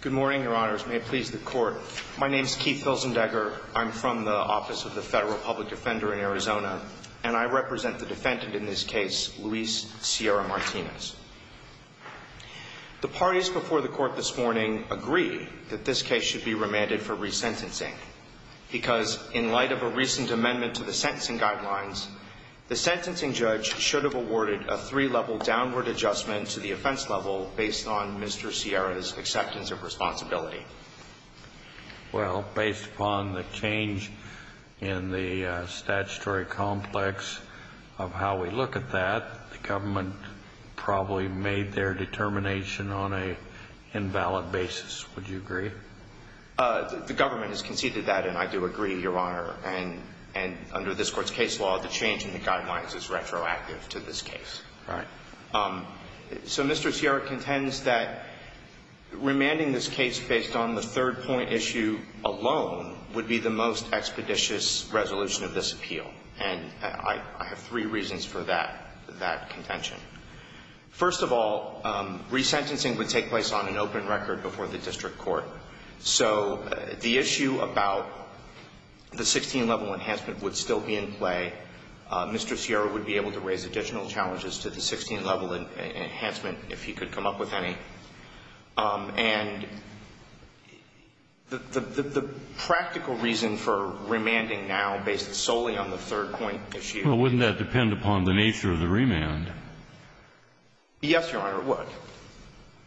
Good morning, your honors. May it please the court. My name is Keith Pilsendegger. I'm from the Office of the Federal Public Defender in Arizona, and I represent the defendant in this case, Luis Sierra-Martinez. The parties before the court this morning agree that this case should be remanded for resentencing because in light of a recent amendment to the sentencing guidelines, the sentencing judge should have awarded a three-level downward adjustment to the offense level based on Mr. Sierra's acceptance of responsibility. Well, based upon the change in the statutory complex of how we look at that, the government probably made their determination on an invalid basis. Would you agree? The government has conceded that, and I do agree, your honor. And under this court's case law, the change in the guidelines is retroactive to this case. All right. So Mr. Sierra contends that remanding this case based on the third-point issue alone would be the most expeditious resolution of this appeal, and I have three reasons for that contention. First of all, resentencing would take place on an open record before the district court. So the issue about the 16-level enhancement would still be in play. Mr. Sierra would be able to raise additional challenges to the 16-level enhancement if he could come up with any. And the practical reason for remanding now based solely on the third-point issue — Well, wouldn't that depend upon the nature of the remand? Yes, your honor, it would.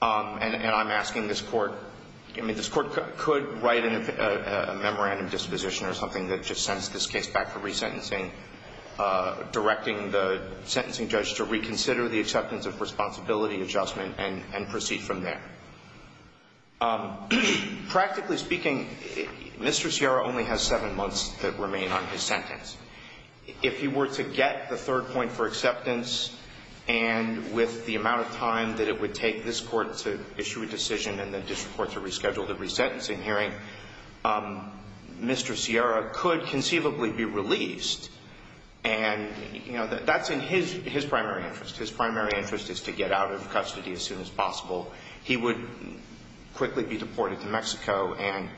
And I'm asking this court — I mean, this court could write a memorandum of disposition or something that just sends this case back for resentencing, directing the sentencing judge to reconsider the acceptance of responsibility adjustment and proceed from there. Practically speaking, Mr. Sierra only has seven months to remain on his sentence. If he were to get the third point for acceptance and with the amount of time that it would take this court to issue a decision and the district court to reschedule the resentencing hearing, Mr. Sierra could conceivably be released. And, you know, that's in his primary interest. His primary interest is to get out of custody as soon as possible. He would quickly be deported to Mexico, and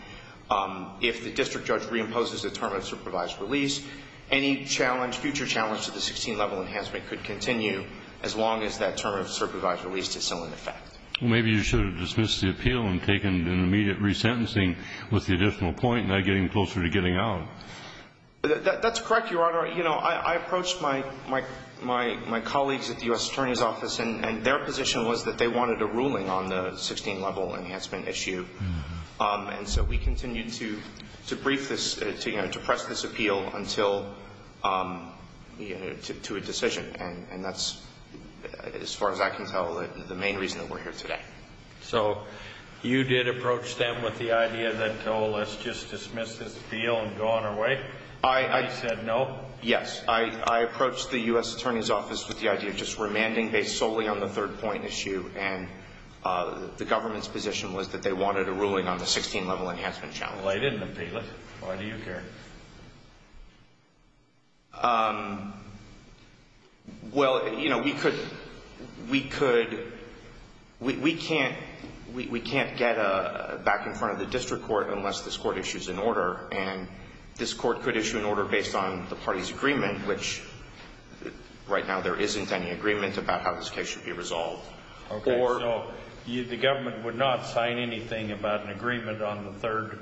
if the district judge reimposes the term of supervised release, any future challenge to the 16-level enhancement could continue as long as that term of supervised release is still in effect. Well, maybe you should have dismissed the appeal and taken an immediate resentencing with the additional point, not getting closer to getting out. That's correct, your honor. You know, I approached my colleagues at the U.S. Attorney's Office, and their position was that they wanted a ruling on the 16-level enhancement issue. And so we continued to brief this — to press this appeal until — you know, to a decision. And that's, as far as I can tell, the main reason that we're here today. So you did approach them with the idea that, oh, let's just dismiss this appeal and go on our way? You said no? Yes. I approached the U.S. Attorney's Office with the idea of just remanding based solely on the third point issue, and the government's position was that they wanted a ruling on the 16-level enhancement challenge. Well, they didn't appeal it. Why do you care? Well, you know, we could — we could — we can't — we can't get back in front of the district court unless this court issues an order. And this court could issue an order based on the party's agreement, which — right now there isn't any agreement about how this case should be resolved. Okay, so the government would not sign anything about an agreement on the third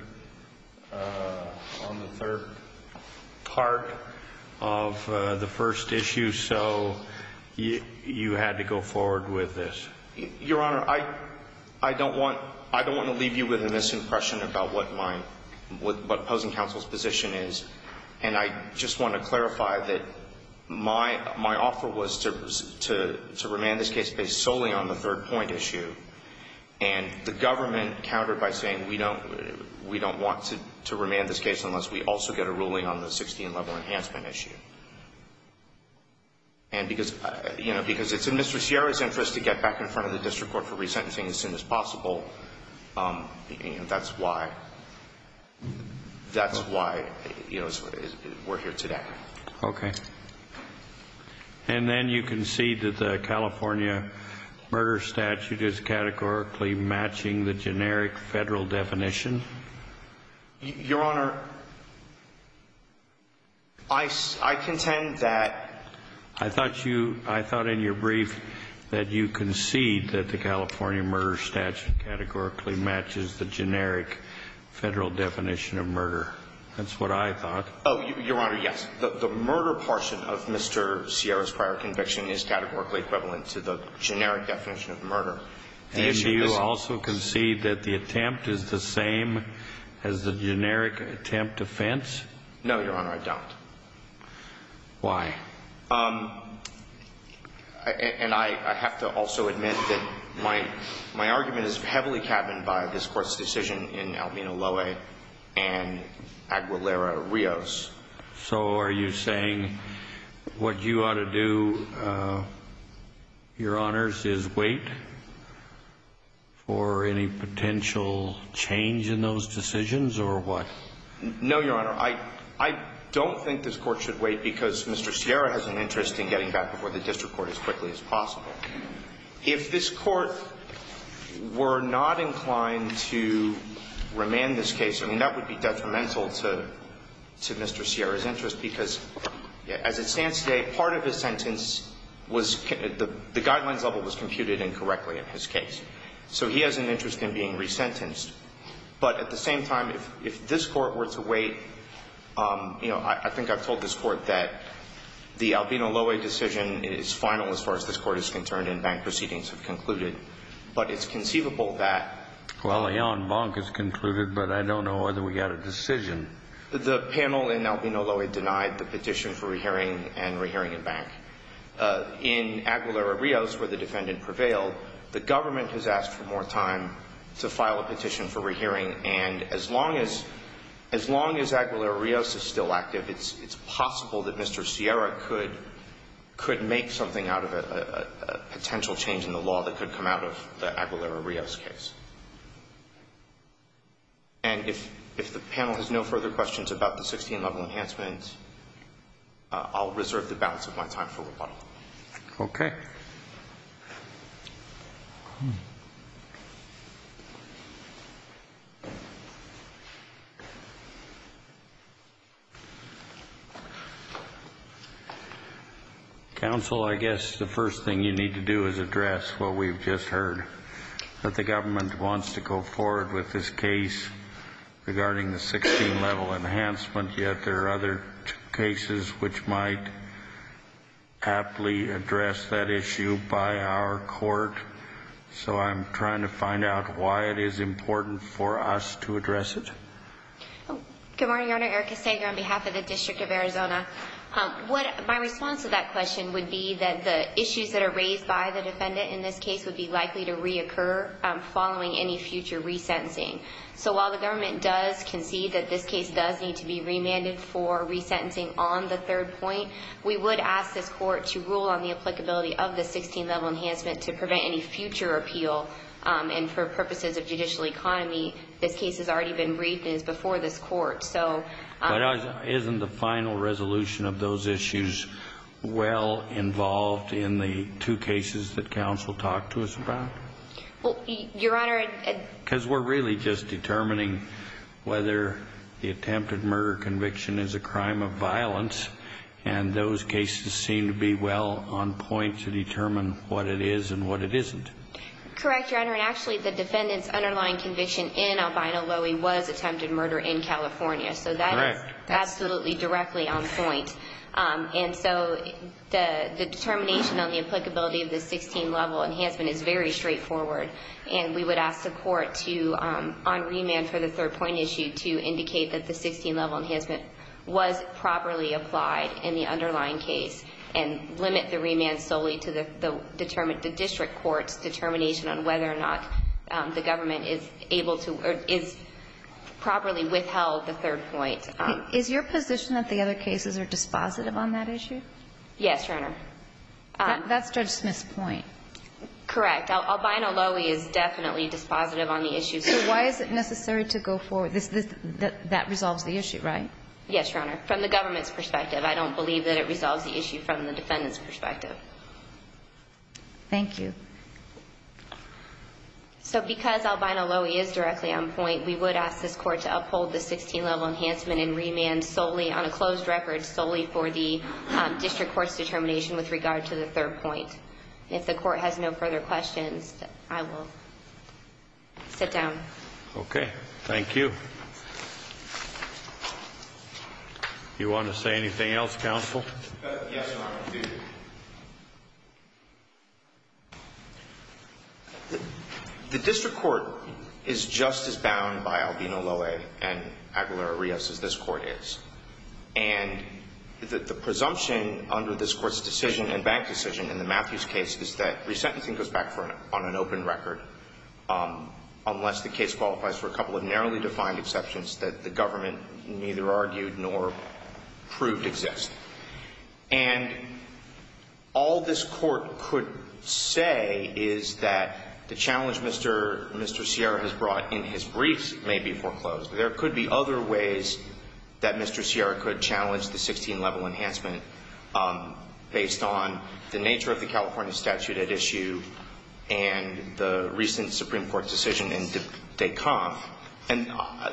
— on the third part of the first issue, so you had to go forward with this? Your Honor, I don't want — I don't want to leave you with a misimpression about what my — what opposing counsel's position is, and I just want to clarify that my offer was to remand this case based solely on the third point issue, and the government countered by saying we don't — we don't want to remand this case unless we also get a ruling on the 16-level enhancement issue. And because — you know, because it's in Mr. Sierra's interest to get back in front of the district court for resentencing as soon as possible, you know, that's why — that's why, you know, we're here today. Okay. And then you concede that the California murder statute is categorically matching the generic Federal definition? Your Honor, I — I contend that — I thought you — I thought in your brief that you concede that the California murder statute categorically matches the generic Federal definition of murder. That's what I thought. Oh, Your Honor, yes. The murder portion of Mr. Sierra's prior conviction is categorically equivalent to the generic definition of murder. And do you also concede that the attempt is the same as the generic attempt offense? No, Your Honor, I don't. Why? And I have to also admit that my — my argument is heavily cabined by this Court's decision in Albino Loewe and Aguilera-Rios. So are you saying what you ought to do, Your Honors, is wait for any potential change in those decisions, or what? No, Your Honor, I — I don't think this Court should wait because Mr. Sierra has an interest in getting back before the district court as quickly as possible. If this Court were not inclined to remand this case, I mean, that would be detrimental to — to Mr. Sierra's interest because as it stands today, part of his sentence was — the guidelines level was computed incorrectly in his case. So he has an interest in being resentenced. But at the same time, if this Court were to wait, you know, I think I've told this Court that the Albino Loewe decision is final as far as this Court is concerned and bank proceedings have concluded. But it's conceivable that — Well, Leon Bonk has concluded, but I don't know whether we got a decision. The panel in Albino Loewe denied the petition for re-hearing and re-hearing in bank. In Aguilera-Rios, where the defendant prevailed, the government has asked for more time to file a petition for re-hearing. And as long as — as long as Aguilera-Rios is still active, it's possible that Mr. Sierra could — could make something out of a potential change in the law that could come out of the Aguilera-Rios case. And if the panel has no further questions about the 16-level enhancements, I'll reserve the balance of my time for rebuttal. Okay. Counsel, I guess the first thing you need to do is address what we've just heard. That the government wants to go forward with this case regarding the 16-level enhancement, yet there are other cases which might aptly address that issue by our court. So I'm trying to find out why it is important for us to address it. Good morning, Your Honor. Erica Sager on behalf of the District Attorney's Office. District of Arizona. What — my response to that question would be that the issues that are raised by the defendant in this case would be likely to reoccur following any future resentencing. So while the government does concede that this case does need to be remanded for resentencing on the third point, we would ask this court to rule on the applicability of the 16-level enhancement to prevent any future appeal. And for purposes of judicial economy, this case has already been briefed and is before this court. So — But isn't the final resolution of those issues well involved in the two cases that counsel talked to us about? Well, Your Honor — Because we're really just determining whether the attempted murder conviction is a crime of violence, and those cases seem to be well on point to determine what it is and what it isn't. Correct, Your Honor. And actually, the defendant's underlying conviction in Albino Loewy was attempted murder in California. So that is absolutely directly on point. And so the determination on the applicability of the 16-level enhancement is very straightforward. And we would ask the court to — on remand for the third point issue to indicate that the 16-level enhancement was properly applied in the underlying case and limit the remand solely to the district court's determination on whether or not the government is able to — or is properly withheld the third point. Is your position that the other cases are dispositive on that issue? Yes, Your Honor. That's Judge Smith's point. Correct. Albino Loewy is definitely dispositive on the issue. So why is it necessary to go forward? That resolves the issue, right? Yes, Your Honor. From the government's perspective, I don't believe that it resolves the issue from the defendant's perspective. Thank you. So because Albino Loewy is directly on point, we would ask this court to uphold the 16-level enhancement and remand solely — on a closed record — solely for the district court's determination with regard to the third point. If the court has no further questions, I will sit down. Okay. Thank you. Do you want to say anything else, counsel? Yes, Your Honor, I do. The district court is just as bound by Albino Loewy and Aguilera-Rios as this court is. And the presumption under this court's decision and bank decision in the Matthews case is that resentencing goes back on an open record unless the case qualifies for a couple of narrowly defined exceptions that the government neither argued nor proved exist. And all this court could say is that the challenge Mr. Sierra has brought in his briefs may be foreclosed. There could be other ways that Mr. Sierra could challenge the 16-level enhancement based on the nature of the California statute at issue and the recent Supreme Court decision in DeKalb. And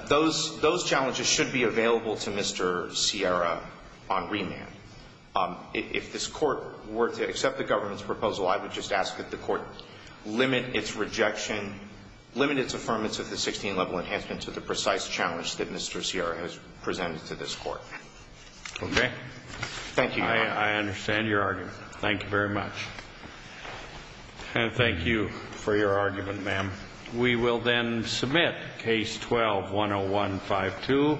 those challenges should be available to Mr. Sierra on remand. If this court were to accept the government's proposal I would just ask that the court limit its rejection limit its affirmation of the 16-level enhancement to the precise challenge that Mr. Sierra has presented to this court. Okay. Thank you, Your Honor. I understand your argument. Thank you very much. And thank you for your argument, ma'am. We will then submit Case 12-101-52